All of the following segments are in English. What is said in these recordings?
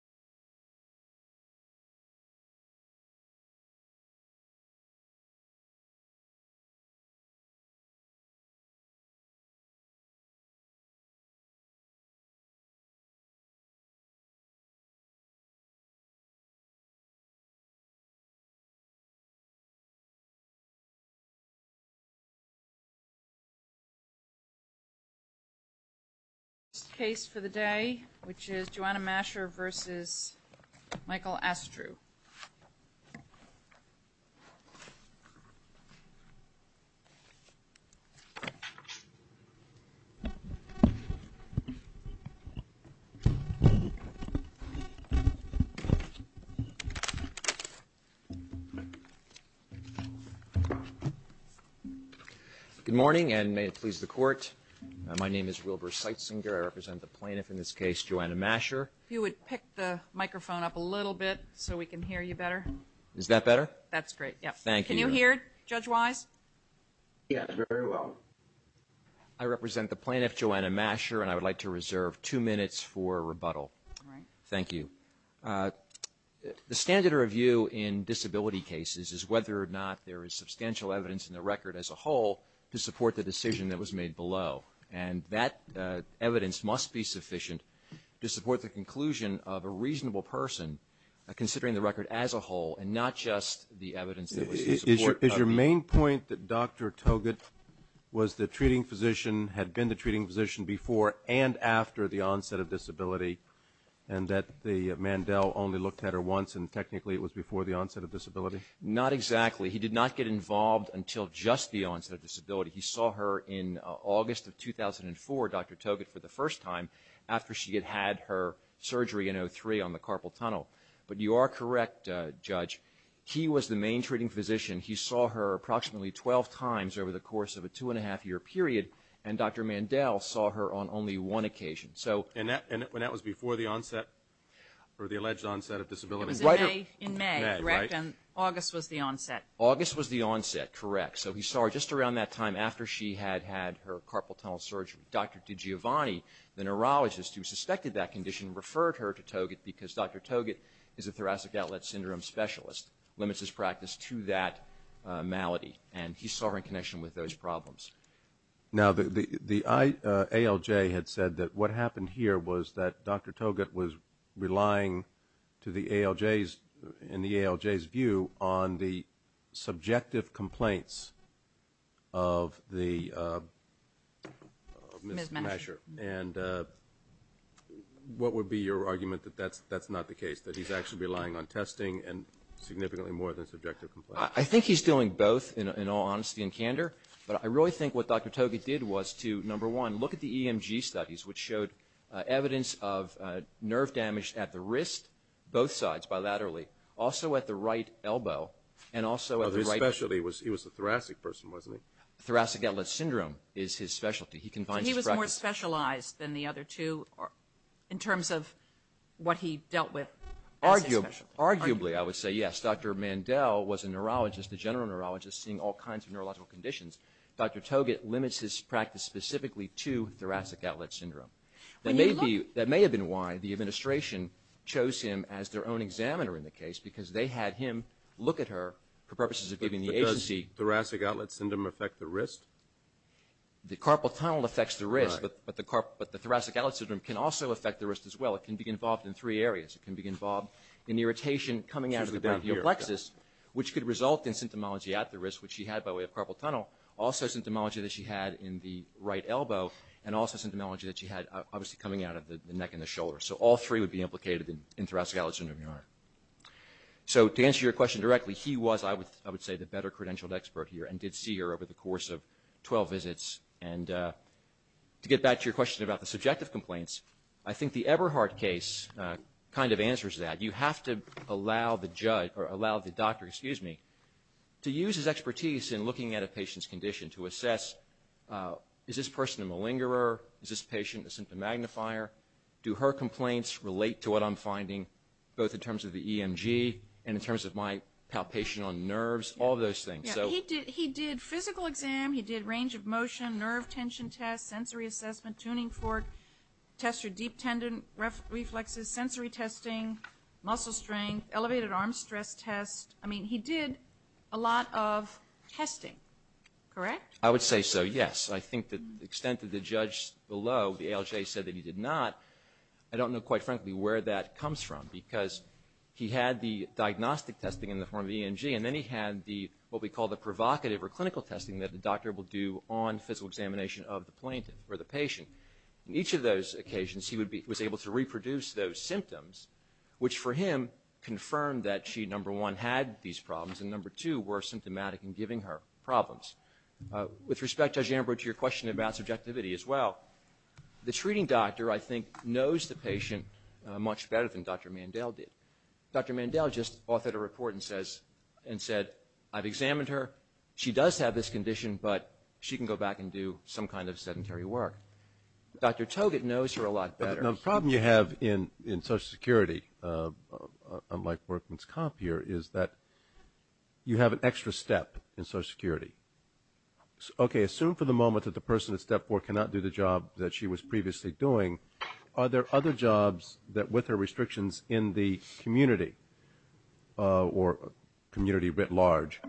This is a test case for the day, which is Joanna Masher v. Comm Soc Sec. This is Michael Astru. Good morning and may it please the Court. My name is Wilbur Seitzinger. I represent the plaintiff in this case, Joanna Masher. If you would pick the microphone up a little bit so we can hear you better. Is that better? That's great. Thank you. Can you hear, judge-wise? Yes, very well. I represent the plaintiff, Joanna Masher, and I would like to reserve two minutes for rebuttal. All right. Thank you. The standard of review in disability cases is whether or not there is substantial evidence in the record as a whole to support the decision that was made below. And that evidence must be sufficient to support the conclusion of a reasonable person, considering the record as a whole and not just the evidence that was in support of it. Is your main point that Dr. Togut was the treating physician, had been the treating physician before and after the onset of disability, and that the Mandel only looked at her once and technically it was before the onset of disability? Not exactly. He did not get involved until just the onset of disability. He saw her in August of 2004, Dr. Togut, for the first time, after she had had her surgery in 2003 on the carpal tunnel. But you are correct, judge. He was the main treating physician. He saw her approximately 12 times over the course of a two-and-a-half-year period, and Dr. Mandel saw her on only one occasion. And that was before the onset or the alleged onset of disability? It was in May, correct, and August was the onset. August was the onset, correct. So he saw her just around that time after she had had her carpal tunnel surgery. Dr. DiGiovanni, the neurologist who suspected that condition, referred her to Togut because Dr. Togut is a thoracic outlet syndrome specialist, limits his practice to that malady, and he saw her in connection with those problems. Now the ALJ had said that what happened here was that Dr. Togut was relying to the ALJ's view on the subjective complaints of Ms. Masher. And what would be your argument that that's not the case, that he's actually relying on testing and significantly more than subjective complaints? I think he's doing both, in all honesty and candor. But I really think what Dr. Togut did was to, number one, look at the EMG studies, which showed evidence of nerve damage at the wrist, both sides, bilaterally, also at the right elbow, and also at the right... His specialty was, he was a thoracic person, wasn't he? Thoracic outlet syndrome is his specialty. He confines his practice... But he was more specialized than the other two in terms of what he dealt with as his specialty. Arguably, I would say yes. Dr. Mandel was a neurologist, a general neurologist, seeing all kinds of neurological conditions. Dr. Togut limits his practice specifically to thoracic outlet syndrome. That may have been why the administration chose him as their own examiner in the case, because they had him look at her for purposes of giving the agency... But does thoracic outlet syndrome affect the wrist? The carpal tunnel affects the wrist, but the thoracic outlet syndrome can also affect the wrist as well. It can be involved in three areas. It can be involved in irritation coming out of the brachial plexus, which could result in symptomology at the wrist, which she had by way of carpal tunnel, also symptomology that she had in the right elbow, and also symptomology that she had obviously coming out of the neck and the shoulder. So all three would be implicated in thoracic outlet syndrome, Your Honor. So to answer your question directly, he was, I would say, the better credentialed expert here and did see her over the course of 12 visits. And to get back to your question about the subjective complaints, I think the Eberhardt case kind of answers that. You have to allow the doctor to use his expertise in looking at a patient's condition to assess, is this person a malingerer, is this patient a symptom magnifier, do her complaints relate to what I'm finding both in terms of the EMG and in terms of my palpation on nerves, all those things. He did physical exam, he did range of motion, nerve tension tests, sensory assessment, tuning fork, tests for deep tendon reflexes, sensory testing, muscle strength, elevated arm stress test. I mean, he did a lot of testing, correct? I would say so, yes. I think the extent of the judge below, the ALJ said that he did not. I don't know quite frankly where that comes from because he had the diagnostic testing in the form of EMG and then he had what we call the provocative or clinical testing that the doctor will do on physical examination of the plaintiff or the patient. In each of those occasions, he was able to reproduce those symptoms, which for him confirmed that she, number one, had these problems and number two, were symptomatic in giving her problems. With respect, Judge Amber, to your question about subjectivity as well, the treating doctor, I think, knows the patient much better than Dr. Mandel did. Dr. Mandel just authored a report and said, I've examined her, she does have this condition but she can go back and do some kind of sedentary work. Dr. Togut knows her a lot better. The problem you have in Social Security, unlike workman's comp here, is that you have an extra step in Social Security. Okay, assume for the moment that the person at step four cannot do the job that she was previously doing, are there other jobs with her restrictions in the community or community writ large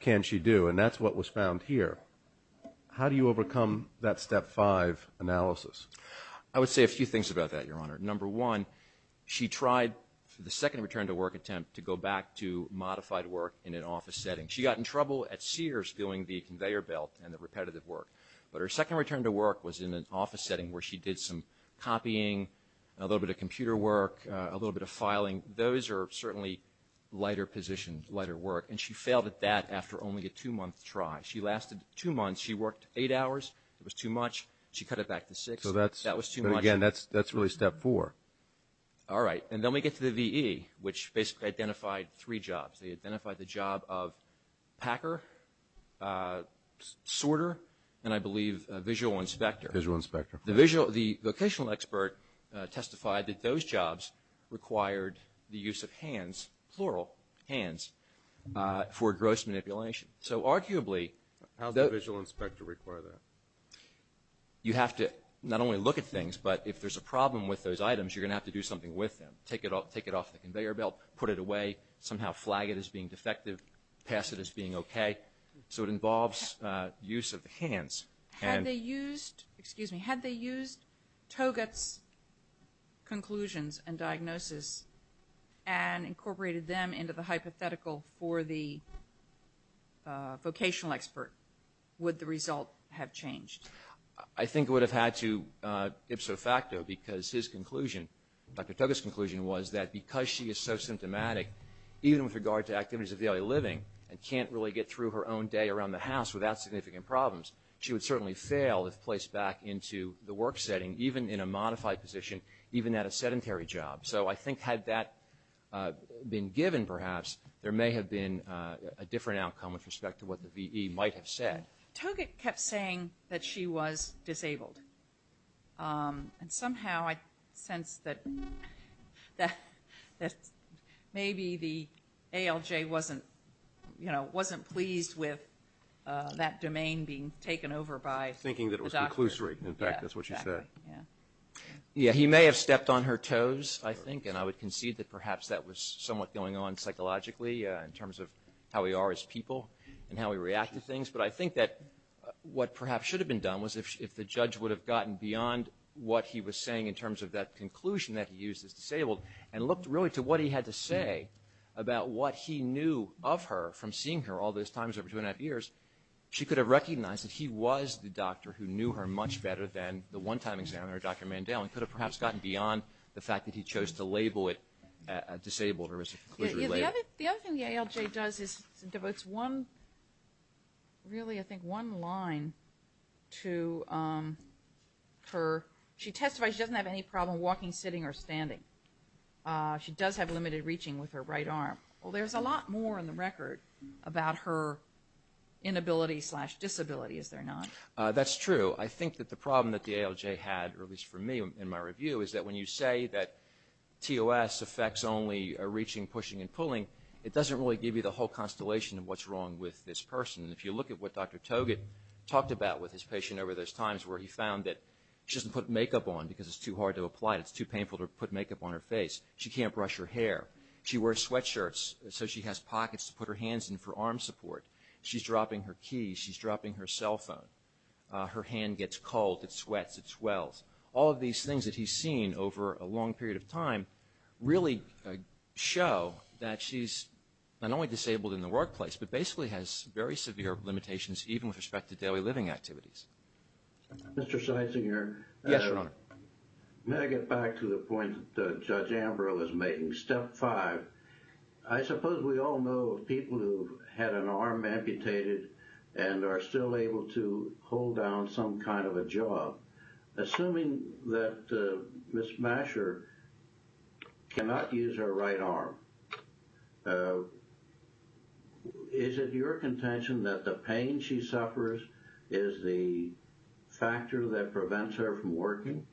can she do? And that's what was found here. How do you overcome that step five analysis? I would say a few things about that, Your Honor. Number one, she tried the second return to work attempt to go back to modified work in an office setting. She got in trouble at Sears doing the conveyor belt and the repetitive work. But her second return to work was in an office setting where she did some copying, a little bit of computer work, a little bit of filing. Those are certainly lighter positions, lighter work. And she failed at that after only a two-month try. She lasted two months. She worked eight hours. It was too much. She cut it back to six. That was too much. Again, that's really step four. All right. And then we get to the VE, which basically identified three jobs. They identified the job of packer, sorter, and I believe visual inspector. Visual inspector. The vocational expert testified that those jobs required the use of hands, plural, hands, for gross manipulation. So arguably the – How does the visual inspector require that? You have to not only look at things, but if there's a problem with those items, you're going to have to do something with them, take it off the conveyor belt, put it away, somehow flag it as being defective, pass it as being okay. So it involves use of the hands. Had they used – excuse me. Had they used Togut's conclusions and diagnosis and incorporated them into the hypothetical for the vocational expert, would the result have changed? I think it would have had to ipso facto because his conclusion, Dr. Togut's conclusion, was that because she is so symptomatic, even with regard to activities of daily living, and can't really get through her own day around the house without significant problems, she would certainly fail if placed back into the work setting, even in a modified position, even at a sedentary job. So I think had that been given, perhaps, there may have been a different outcome with respect to what the VE might have said. Togut kept saying that she was disabled. And somehow I sense that maybe the ALJ wasn't, you know, wasn't pleased with that domain being taken over by the doctor. Thinking that it was conclusory. In fact, that's what she said. Yeah. He may have stepped on her toes, I think, and I would concede that perhaps that was somewhat going on psychologically in terms of how we are as people and how we react to things. But I think that what perhaps should have been done was if the judge would have gotten beyond what he was saying in terms of that conclusion that he used as disabled and looked really to what he had to say about what he knew of her from seeing her all those times over two and a half years, she could have recognized that he was the doctor who knew her much better than the one-time examiner, Dr. Mandel, and could have perhaps gotten beyond the fact that he chose to label it disabled or as a conclusory label. The other thing the ALJ does is devotes one, really I think one line to her. She testifies she doesn't have any problem walking, sitting, or standing. She does have limited reaching with her right arm. Well, there's a lot more in the record about her inability slash disability, is there not? That's true. I think that the problem that the ALJ had, or at least for me in my review, is that when you say that TOS affects only reaching, pushing, and pulling, it doesn't really give you the whole constellation of what's wrong with this person. If you look at what Dr. Togut talked about with his patient over those times where he found that she doesn't put makeup on because it's too hard to apply it. It's too painful to put makeup on her face. She can't brush her hair. She wears sweatshirts so she has pockets to put her hands in for arm support. She's dropping her keys. She's dropping her cell phone. Her hand gets cold. It sweats. It swells. All of these things that he's seen over a long period of time really show that she's not only disabled in the workplace but basically has very severe limitations even with respect to daily living activities. Mr. Sizinger. Yes, Your Honor. May I get back to the point that Judge Ambrose was making? Step five. I suppose we all know of people who had an arm amputated and are still able to hold down some kind of a job. Assuming that Ms. Masher cannot use her right arm, is it your contention that the pain she suffers is the factor that prevents her from working?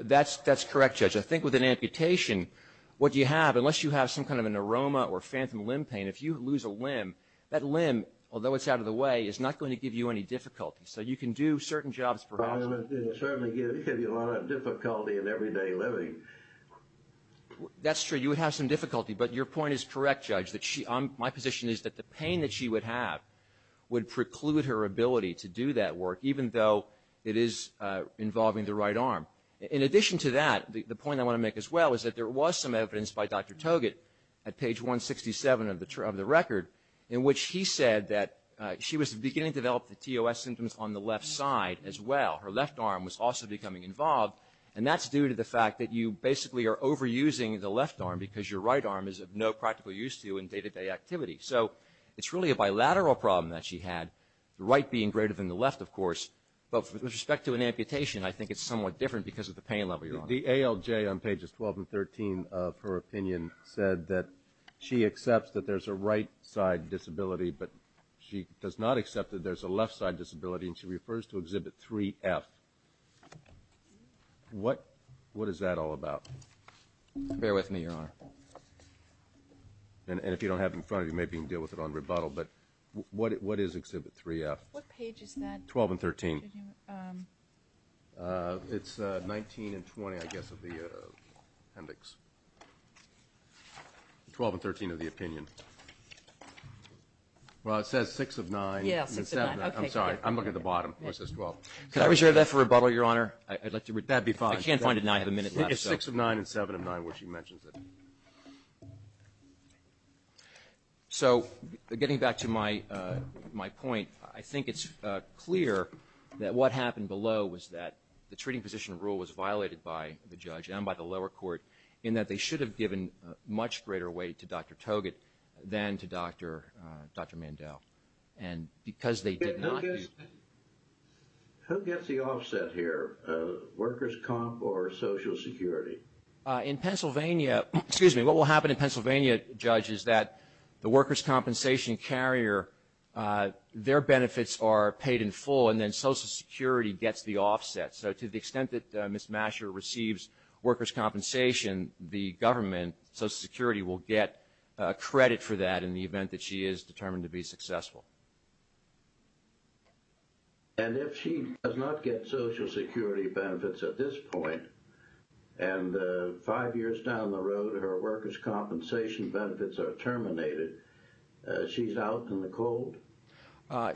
That's correct, Judge. I think with an amputation, what you have, unless you have some kind of an aroma or phantom limb pain, if you lose a limb, that limb, although it's out of the way, is not going to give you any difficulty. So you can do certain jobs perhaps. It will certainly give you a lot of difficulty in everyday living. That's true. You would have some difficulty, but your point is correct, Judge. My position is that the pain that she would have would preclude her ability to do that work, even though it is involving the right arm. In addition to that, the point I want to make as well is that there was some evidence by Dr. Togut at page 167 of the record in which he said that she was beginning to develop the TOS symptoms on the left side as well. Her left arm was also becoming involved, and that's due to the fact that you basically are overusing the left arm because your right arm is of no practical use to you in day-to-day activity. So it's really a bilateral problem that she had, the right being greater than the left, of course. But with respect to an amputation, I think it's somewhat different because of the pain level you're on. The ALJ on pages 12 and 13 of her opinion said that she accepts that there's a right-side disability, but she does not accept that there's a left-side disability, and she refers to Exhibit 3F. What is that all about? Bear with me, Your Honor. And if you don't have it in front of you, maybe you can deal with it on rebuttal. But what is Exhibit 3F? What page is that? 12 and 13. It's 19 and 20, I guess, of the appendix. 12 and 13 of the opinion. Well, it says 6 of 9. Yeah, 6 of 9. I'm sorry. I'm looking at the bottom. It says 12. Can I reserve that for rebuttal, Your Honor? That would be fine. I can't find it now. I have a minute left. It's 6 of 9 and 7 of 9 where she mentions it. So getting back to my point, I think it's clear that what happened below was that the treating position rule was violated by the judge and by the lower court in that they should have given much greater weight to Dr. Togut than to Dr. Mandel. And because they did not. Who gets the offset here, workers' comp or Social Security? In Pennsylvania, what will happen in Pennsylvania, Judge, is that the workers' compensation carrier, their benefits are paid in full, and then Social Security gets the offset. So to the extent that Ms. Masher receives workers' compensation, the government, Social Security, will get credit for that in the event that she is determined to be successful. And if she does not get Social Security benefits at this point, and five years down the road, her workers' compensation benefits are terminated, she's out in the cold?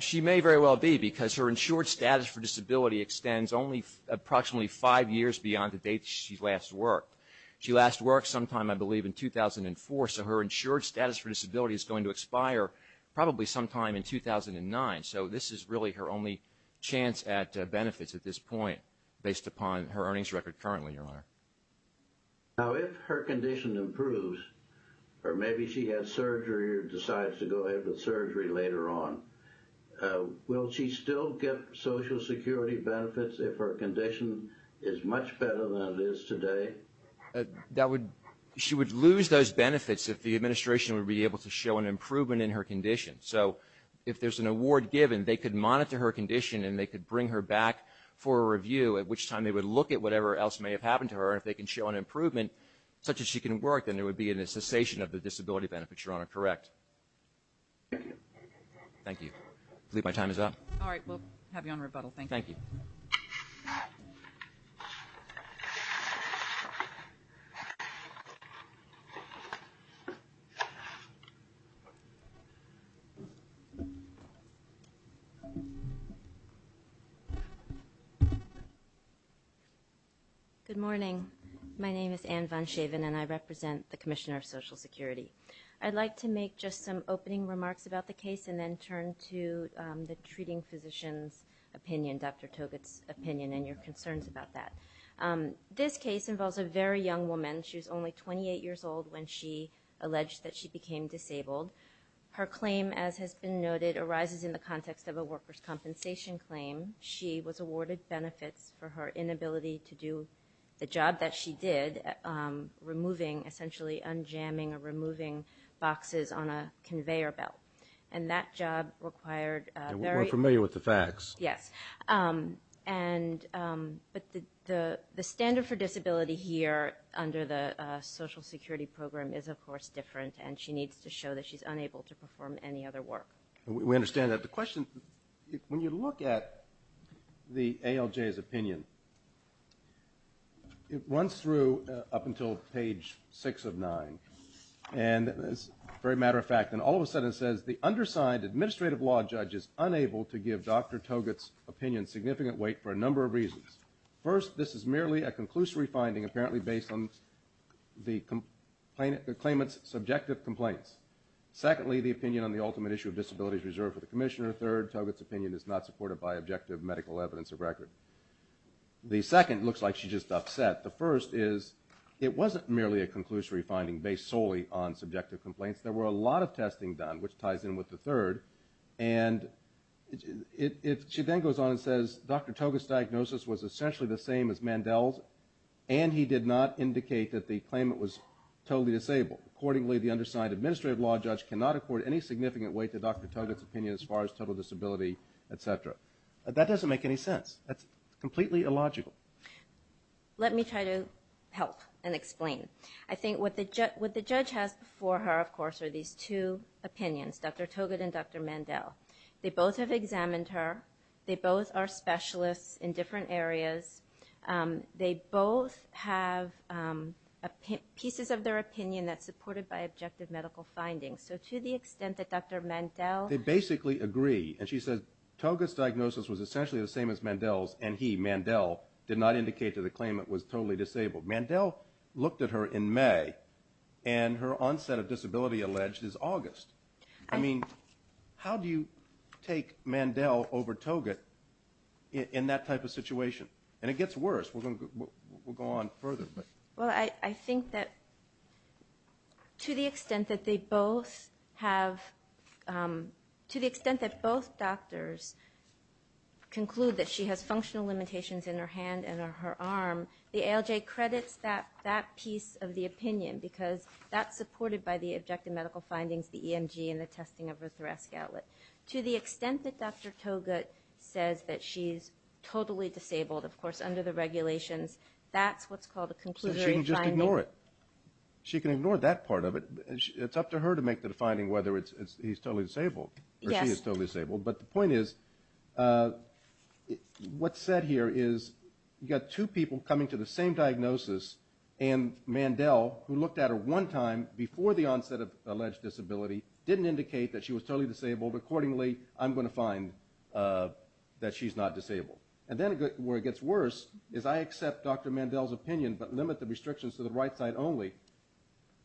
She may very well be, because her insured status for disability extends only approximately five years beyond the date she last worked. She last worked sometime, I believe, in 2004, so her insured status for disability is going to expire probably sometime in 2009. So this is really her only chance at benefits at this point, based upon her earnings record currently, Your Honor. Now, if her condition improves, or maybe she has surgery or decides to go ahead with surgery later on, will she still get Social Security benefits if her condition is much better than it is today? She would lose those benefits if the administration would be able to show an improvement in her condition. So if there's an award given, they could monitor her condition and they could bring her back for a review, at which time they would look at whatever else may have happened to her, and if they can show an improvement, such as she can work, then there would be a cessation of the disability benefits, Your Honor. Correct? Thank you. I believe my time is up. All right. We'll have you on rebuttal. Thank you. Thank you. Good morning. My name is Anne Von Schaven, and I represent the Commissioner of Social Security. I'd like to make just some opening remarks about the case and then turn to the treating physician's opinion, Dr. Togut's opinion, and your concerns about that. This case involves a very young woman. She was only 28 years old when she alleged that she became disabled. Her claim, as has been noted, arises in the context of a worker's compensation claim. She was awarded benefits for her inability to do the job that she did, removing, essentially unjamming or removing boxes on a conveyor belt. And that job required a very... We're familiar with the facts. Yes. But the standard for disability here under the Social Security program is, of course, different, and she needs to show that she's unable to perform any other work. We understand that. But the question, when you look at the ALJ's opinion, it runs through up until page 6 of 9. And as a very matter of fact, and all of a sudden it says, the undersigned administrative law judge is unable to give Dr. Togut's opinion significant weight for a number of reasons. First, this is merely a conclusory finding apparently based on the claimant's subjective complaints. Secondly, the opinion on the ultimate issue of disability is reserved for the commissioner. Third, Togut's opinion is not supported by objective medical evidence or record. The second looks like she's just upset. The first is, it wasn't merely a conclusory finding based solely on subjective complaints. There were a lot of testing done, which ties in with the third. And she then goes on and says, Dr. Togut's diagnosis was essentially the same as Mandel's, and he did not indicate that the claimant was totally disabled. Accordingly, the undersigned administrative law judge cannot accord any significant weight to Dr. Togut's opinion as far as total disability, etc. That doesn't make any sense. That's completely illogical. Let me try to help and explain. I think what the judge has before her, of course, are these two opinions, Dr. Togut and Dr. Mandel. They both have examined her. They both are specialists in different areas. They both have pieces of their opinion that's supported by objective medical findings. So to the extent that Dr. Mandel... They basically agree, and she says, Togut's diagnosis was essentially the same as Mandel's, and he, Mandel, did not indicate that the claimant was totally disabled. Mandel looked at her in May, and her onset of disability alleged is August. I mean, how do you take Mandel over Togut in that type of situation? And it gets worse. We'll go on further. Well, I think that to the extent that they both have... To the extent that both doctors conclude that she has functional limitations in her hand and in her arm, the ALJ credits that piece of the opinion because that's supported by the objective medical findings, the EMG, and the testing of her thoracic outlet. To the extent that Dr. Togut says that she's totally disabled, of course, under the regulations, that's what's called a conclusory finding. She can just ignore it. She can ignore that part of it. It's up to her to make the finding whether he's totally disabled or she is totally disabled. But the point is, what's said here is you've got two people coming to the same diagnosis, and Mandel, who looked at her one time before the onset of alleged disability, didn't indicate that she was totally disabled. Accordingly, I'm going to find that she's not disabled. And then where it gets worse is I accept Dr. Mandel's opinion, but limit the restrictions to the right side only.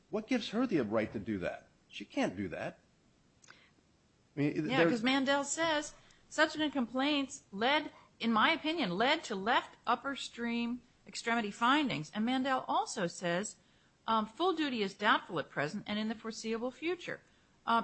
What gives her the right to do that? She can't do that. Yeah, because Mandel says, subsequent complaints led, in my opinion, led to left upper stream extremity findings. And Mandel also says full duty is doubtful at present and in the foreseeable future.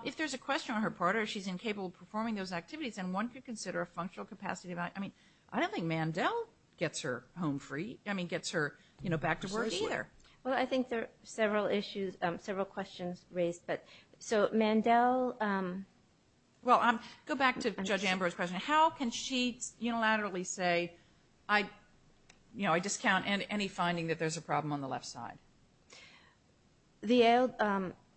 If there's a question on her part, or she's incapable of performing those activities, then one could consider a functional capacity evaluation. I mean, I don't think Mandel gets her home free. I mean, gets her back to work either. Well, I think there are several issues, several questions raised. Well, go back to Judge Ambrose's question. How can she unilaterally say, I discount any finding that there's a problem on the left side?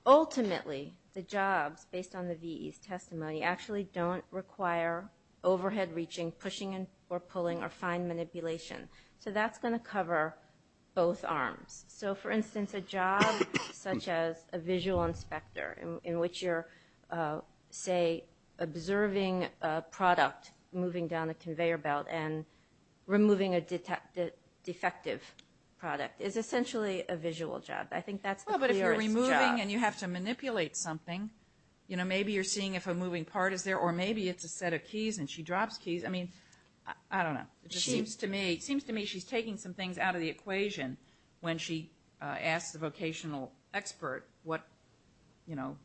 Ultimately, the jobs, based on the VE's testimony, actually don't require overhead reaching, pushing or pulling, or fine manipulation. So that's going to cover both arms. So, for instance, a job such as a visual inspector, in which you're, say, observing a product moving down a conveyor belt and removing a defective product, is essentially a visual job. I think that's the clearest job. Well, but if you're removing and you have to manipulate something, you know, maybe you're seeing if a moving part is there, or maybe it's a set of keys and she drops keys. I mean, I don't know. It just seems to me she's taking some things out of the equation when she asks the vocational expert what, you know,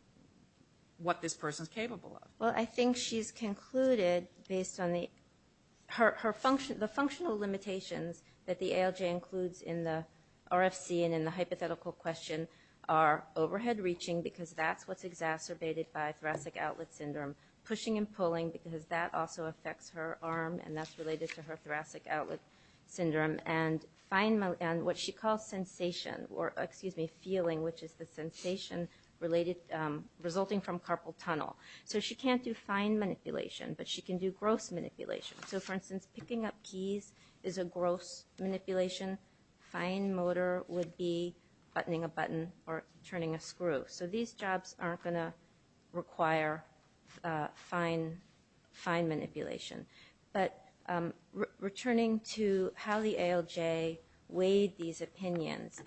what this person's capable of. Well, I think she's concluded, based on the functional limitations that the ALJ includes in the RFC and in the hypothetical question, are overhead reaching because that's what's exacerbated by thoracic outlet syndrome, pushing and pulling because that also affects her arm and that's related to her thoracic outlet syndrome, and what she calls sensation or, excuse me, feeling, which is the sensation resulting from carpal tunnel. So she can't do fine manipulation, but she can do gross manipulation. So, for instance, picking up keys is a gross manipulation. Fine motor would be buttoning a button or turning a screw. So these jobs aren't going to require fine manipulation. But returning to how the ALJ weighed these opinions,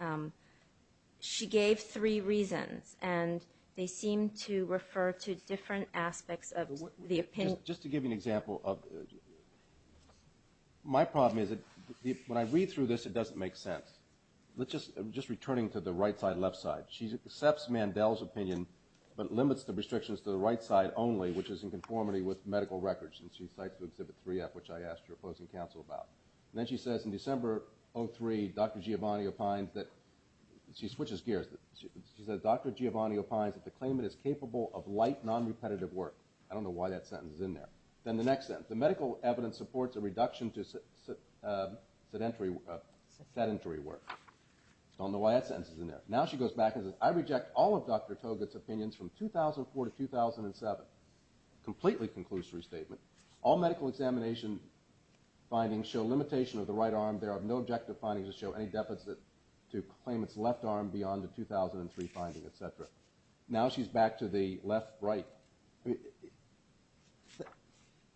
she gave three reasons and they seem to refer to different aspects of the opinion. Just to give you an example, my problem is when I read through this, it doesn't make sense. Just returning to the right side, left side, she accepts Mandel's opinion but limits the restrictions to the right side only, which is in conformity with medical records since she cites to Exhibit 3F, which I asked her opposing counsel about. Then she says in December 2003, Dr. Giovanni opines that, she switches gears. She says, Dr. Giovanni opines that the claimant is capable of light, non-repetitive work. I don't know why that sentence is in there. Then the next sentence, the medical evidence supports a reduction to sedentary work. I don't know why that sentence is in there. Now she goes back and says, I reject all of Dr. Togut's opinions from 2004 to 2007. Completely conclusory statement. All medical examination findings show limitation of the right arm. There are no objective findings that show any deficit to claimant's left arm beyond the 2003 finding, etc. Now she's back to the left-right.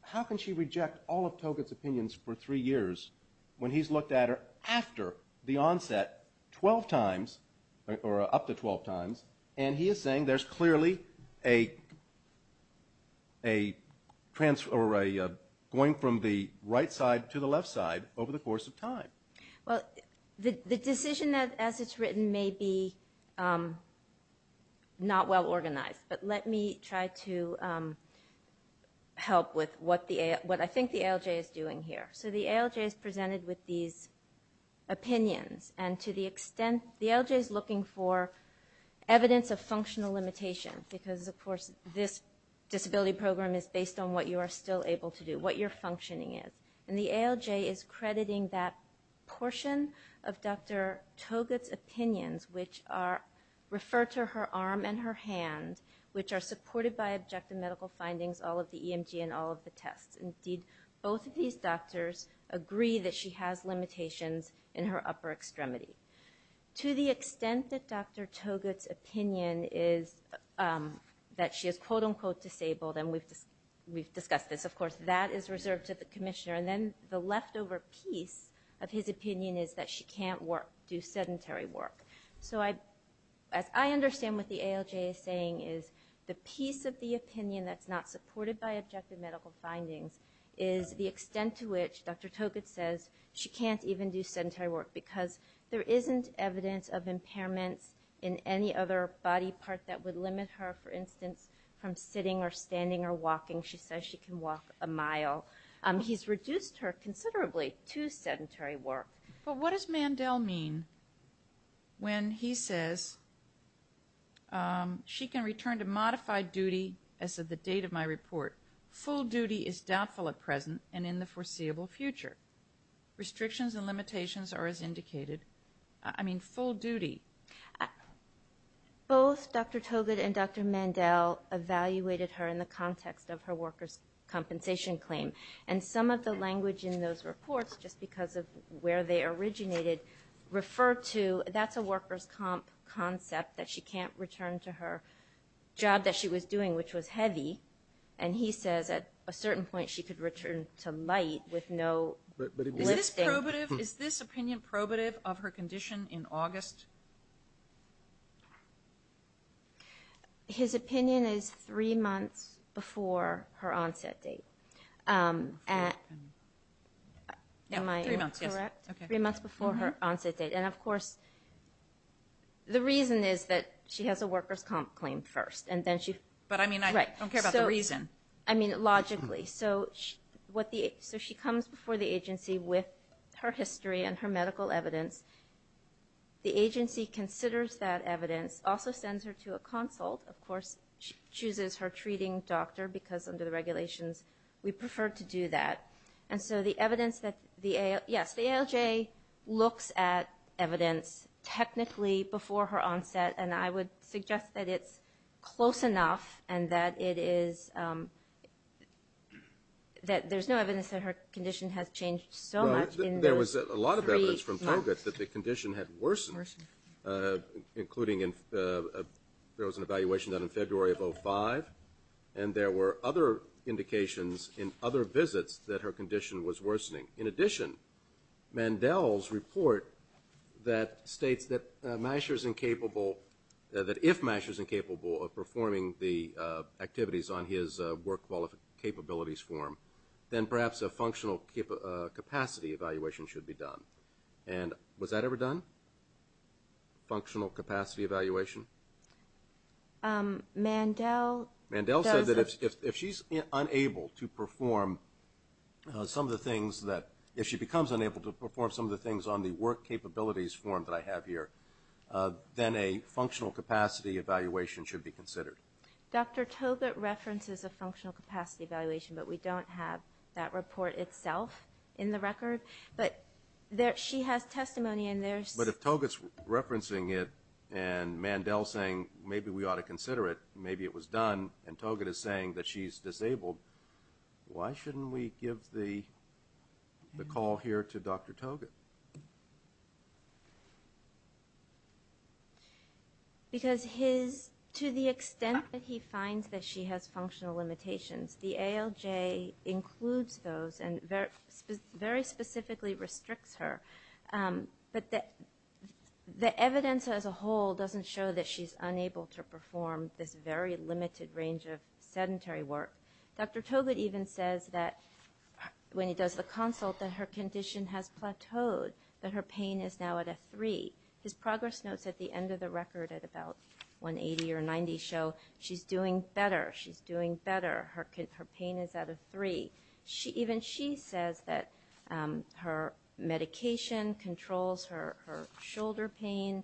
How can she reject all of Togut's opinions for three years when he's looked at her after the onset 12 times, or up to 12 times, and he is saying there's clearly a going from the right side to the left side over the course of time? Well, the decision as it's written may be not well organized, but let me try to help with what I think the ALJ is doing here. So the ALJ is presented with these opinions, and to the extent the ALJ is looking for evidence of functional limitations, because, of course, this disability program is based on what you are still able to do, what your functioning is. And the ALJ is crediting that portion of Dr. Togut's opinions, which refer to her arm and her hand, which are supported by objective medical findings, all of the EMG and all of the tests. Indeed, both of these doctors agree that she has limitations in her upper extremity. To the extent that Dr. Togut's opinion is that she is, quote, unquote, disabled, and we've discussed this, of course, that is reserved to the commissioner. And then the leftover piece of his opinion is that she can't do sedentary work. So as I understand what the ALJ is saying is the piece of the opinion that's not supported by objective medical findings is the extent to which Dr. Togut says she can't even do sedentary work because there isn't evidence of impairments in any other body part that would limit her, for instance, from sitting or standing or walking. She says she can walk a mile. He's reduced her considerably to sedentary work. But what does Mandel mean when he says she can return to modified duty as of the date of my report? Full duty is doubtful at present and in the foreseeable future. Restrictions and limitations are as indicated. I mean, full duty. Both Dr. Togut and Dr. Mandel evaluated her in the context of her workers' compensation claim. And some of the language in those reports, just because of where they originated, refer to that's a workers' comp concept that she can't return to her job that she was doing, which was heavy. And he says at a certain point she could return to light with no lifting. Is this opinion probative of her condition in August? His opinion is three months before her onset date. Am I correct? Three months before her onset date. And, of course, the reason is that she has a workers' comp claim first. But, I mean, I don't care about the reason. I mean, logically. So she comes before the agency with her history and her medical evidence. The agency considers that evidence, also sends her to a consult. Of course, she chooses her treating doctor because under the regulations we prefer to do that. And so the evidence that the ALJ looks at evidence technically before her onset, and I would suggest that it's close enough and that it is that there's no evidence that her condition has changed so much in those three months. I would suggest that the condition had worsened, including there was an evaluation done in February of 2005, and there were other indications in other visits that her condition was worsening. In addition, Mandel's report states that if Masher is incapable of performing the activities on his work capabilities form, then perhaps a functional capacity evaluation should be done. And was that ever done? Functional capacity evaluation? Mandel does it. Mandel said that if she's unable to perform some of the things that, if she becomes unable to perform some of the things on the work capabilities form that I have here, then a functional capacity evaluation should be considered. Dr. Togut references a functional capacity evaluation, but we don't have that report itself in the record. But she has testimony in there. But if Togut's referencing it and Mandel's saying maybe we ought to consider it, maybe it was done, and Togut is saying that she's disabled, why shouldn't we give the call here to Dr. Togut? Because his, to the extent that he finds that she has functional limitations, the ALJ includes those and very specifically restricts her. But the evidence as a whole doesn't show that she's unable to perform this very limited range of sedentary work. Dr. Togut even says that when he does the consult that her condition has plateaued, that her pain is now at a three. His progress notes at the end of the record at about 180 or 90 show she's doing better. She's doing better. Her pain is at a three. Even she says that her medication controls her shoulder pain.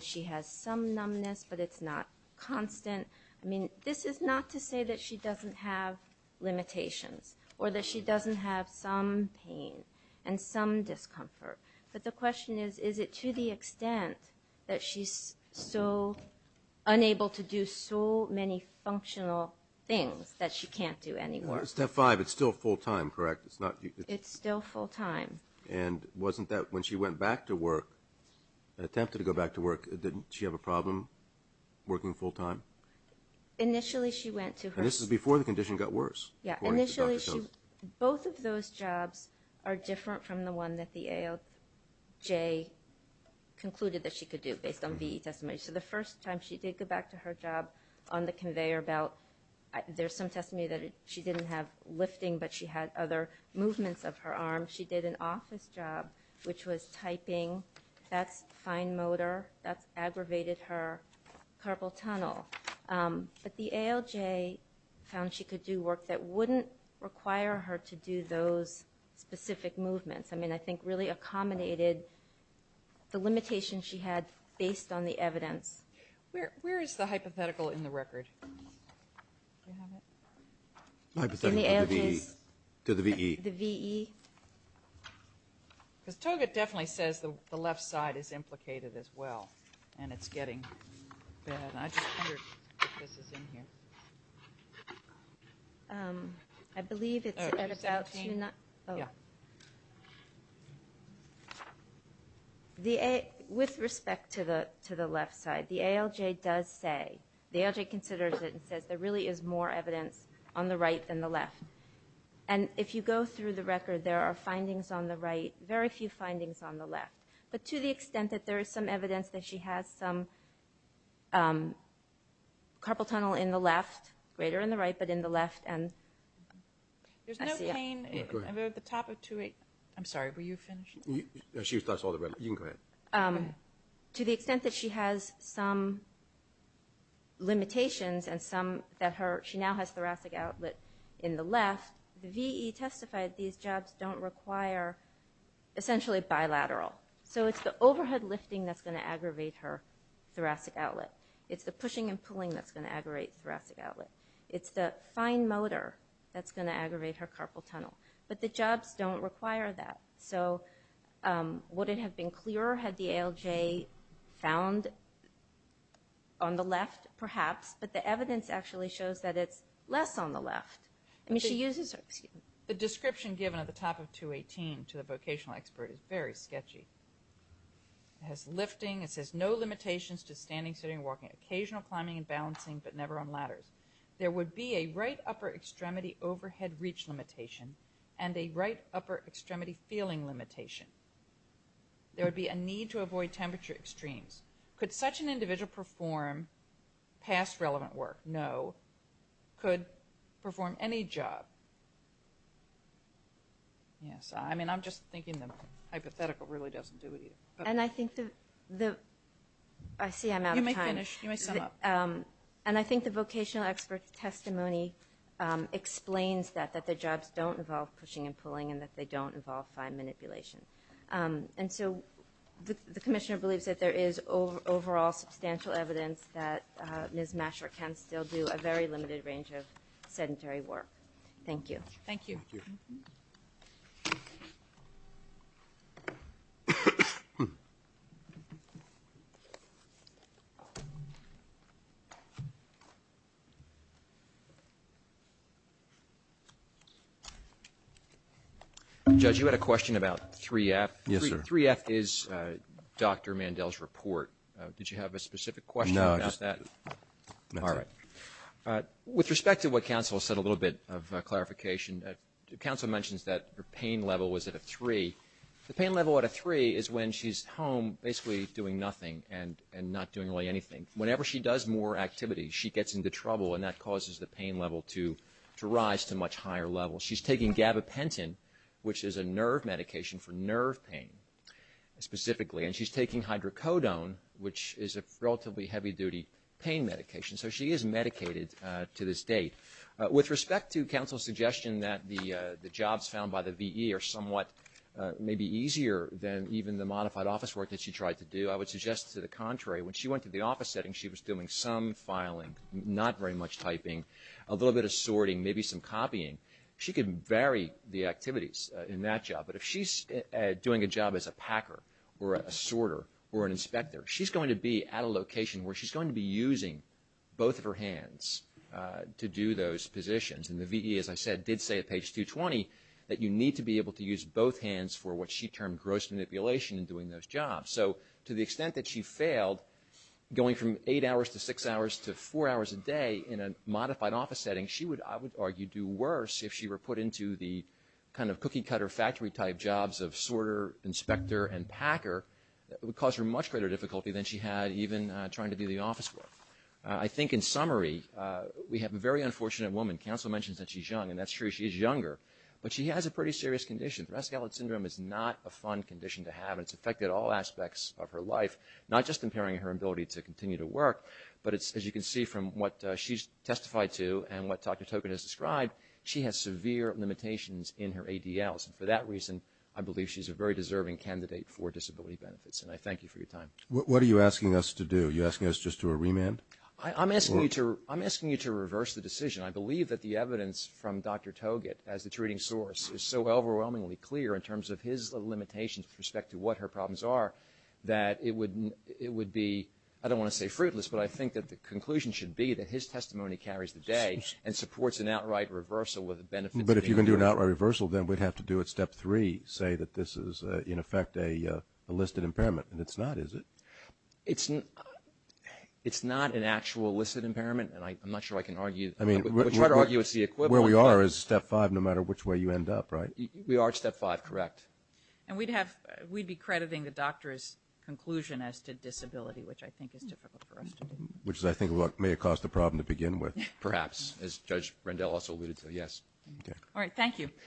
She has some numbness, but it's not constant. I mean, this is not to say that she doesn't have limitations or that she doesn't have some pain and some discomfort. But the question is, is it to the extent that she's so unable to do so many functional things that she can't do any work? Step five, it's still full time, correct? It's still full time. And wasn't that when she went back to work, attempted to go back to work, didn't she have a problem working full time? Initially she went to her... And this is before the condition got worse, according to Dr. Togut. Yeah, initially she... Both of those jobs are different from the one that the ALJ concluded that she could do based on VE testimony. So the first time she did go back to her job on the conveyor belt, there's some testimony that she didn't have lifting, but she had other movements of her arm. She did an office job, which was typing. That's fine motor. That's aggravated her carpal tunnel. But the ALJ found she could do work that wouldn't require her to do those specific movements. I mean, I think really accommodated the limitations she had based on the evidence. Where is the hypothetical in the record? Do you have it? In the ALJ's? To the VE. The VE? Because Togut definitely says the left side is implicated as well, and it's getting bad. I just wondered if this is in here. I believe it's at about 2. Yeah. With respect to the left side, the ALJ does say, the ALJ considers it and says there really is more evidence on the right than the left. And if you go through the record, there are findings on the right, very few findings on the left. But to the extent that there is some evidence that she has some carpal tunnel in the left, greater in the right, but in the left. There's no pain over the top of 2.8. I'm sorry, were you finishing? You can go ahead. To the extent that she has some limitations and some that she now has thoracic outlet in the left, the VE testified these jobs don't require essentially bilateral. So it's the overhead lifting that's going to aggravate her thoracic outlet. It's the pushing and pulling that's going to aggravate thoracic outlet. It's the fine motor that's going to aggravate her carpal tunnel. But the jobs don't require that. So would it have been clearer had the ALJ found on the left? Perhaps. But the evidence actually shows that it's less on the left. I mean, she uses it. The description given at the top of 2.18 to the vocational expert is very sketchy. It has lifting. It says no limitations to standing, sitting, walking, occasional climbing and balancing, but never on ladders. There would be a right upper extremity overhead reach limitation and a right upper extremity feeling limitation. There would be a need to avoid temperature extremes. Could such an individual perform past relevant work? No. Could perform any job? Yes. I mean, I'm just thinking the hypothetical really doesn't do it either. And I think the – I see I'm out of time. You may finish. You may sum up. And I think the vocational expert's testimony explains that, that their jobs don't involve pushing and pulling and that they don't involve fine manipulation. And so the commissioner believes that there is overall substantial evidence that Ms. Masher can still do a very limited range of sedentary work. Thank you. Thank you. Thank you. Judge, you had a question about 3F. Yes, sir. 3F is Dr. Mandel's report. Did you have a specific question about that? No. All right. With respect to what counsel said, a little bit of clarification, counsel mentions that her pain level was at a 3. The pain level at a 3 is when she's home basically doing nothing and not doing really anything. Whenever she does more activity, she gets into trouble, and that causes the pain level to rise to a much higher level. She's taking gabapentin, which is a nerve medication for nerve pain specifically, and she's taking hydrocodone, which is a relatively heavy-duty pain medication. So she is medicated to this date. With respect to counsel's suggestion that the jobs found by the V.E. are somewhat maybe easier than even the modified office work that she tried to do, I would suggest to the contrary. When she went to the office setting, she was doing some filing, not very much typing, a little bit of sorting, maybe some copying. She could vary the activities in that job. But if she's doing a job as a packer or a sorter or an inspector, she's going to be at a location where she's going to be using both of her hands to do those positions. And the V.E., as I said, did say at page 220 that you need to be able to use both hands for what she termed gross manipulation in doing those jobs. So to the extent that she failed going from eight hours to six hours to four hours a day in a modified office setting, she would, I would argue, do worse if she were put into the kind of cookie-cutter factory-type jobs of sorter, inspector, and packer. It would cause her much greater difficulty than she had even trying to do the office work. I think in summary, we have a very unfortunate woman. Counsel mentions that she's young, and that's true. She is younger, but she has a pretty serious condition. Threshold syndrome is not a fun condition to have, and it's affected all aspects of her life, not just impairing her ability to continue to work, but it's, as you can see from what she's testified to and what Dr. Togut has described, she has severe limitations in her ADLs. And for that reason, I believe she's a very deserving candidate for disability benefits. And I thank you for your time. What are you asking us to do? Are you asking us just to remand? I'm asking you to reverse the decision. I believe that the evidence from Dr. Togut, as the treating source, is so overwhelmingly clear in terms of his limitations with respect to what her problems are, that it would be, I don't want to say fruitless, but I think that the conclusion should be that his testimony carries the day and supports an outright reversal with the benefits of the ADL. But if you're going to do an outright reversal, then we'd have to do it step three, say that this is, in effect, a listed impairment. And it's not, is it? It's not an actual listed impairment, and I'm not sure I can argue. I mean, where we are is step five, no matter which way you end up, right? We are at step five, correct. And we'd be crediting the doctor's conclusion as to disability, which I think is difficult for us to do. Which I think may have caused a problem to begin with. Perhaps, as Judge Rendell also alluded to, yes. Okay. All right, thank you.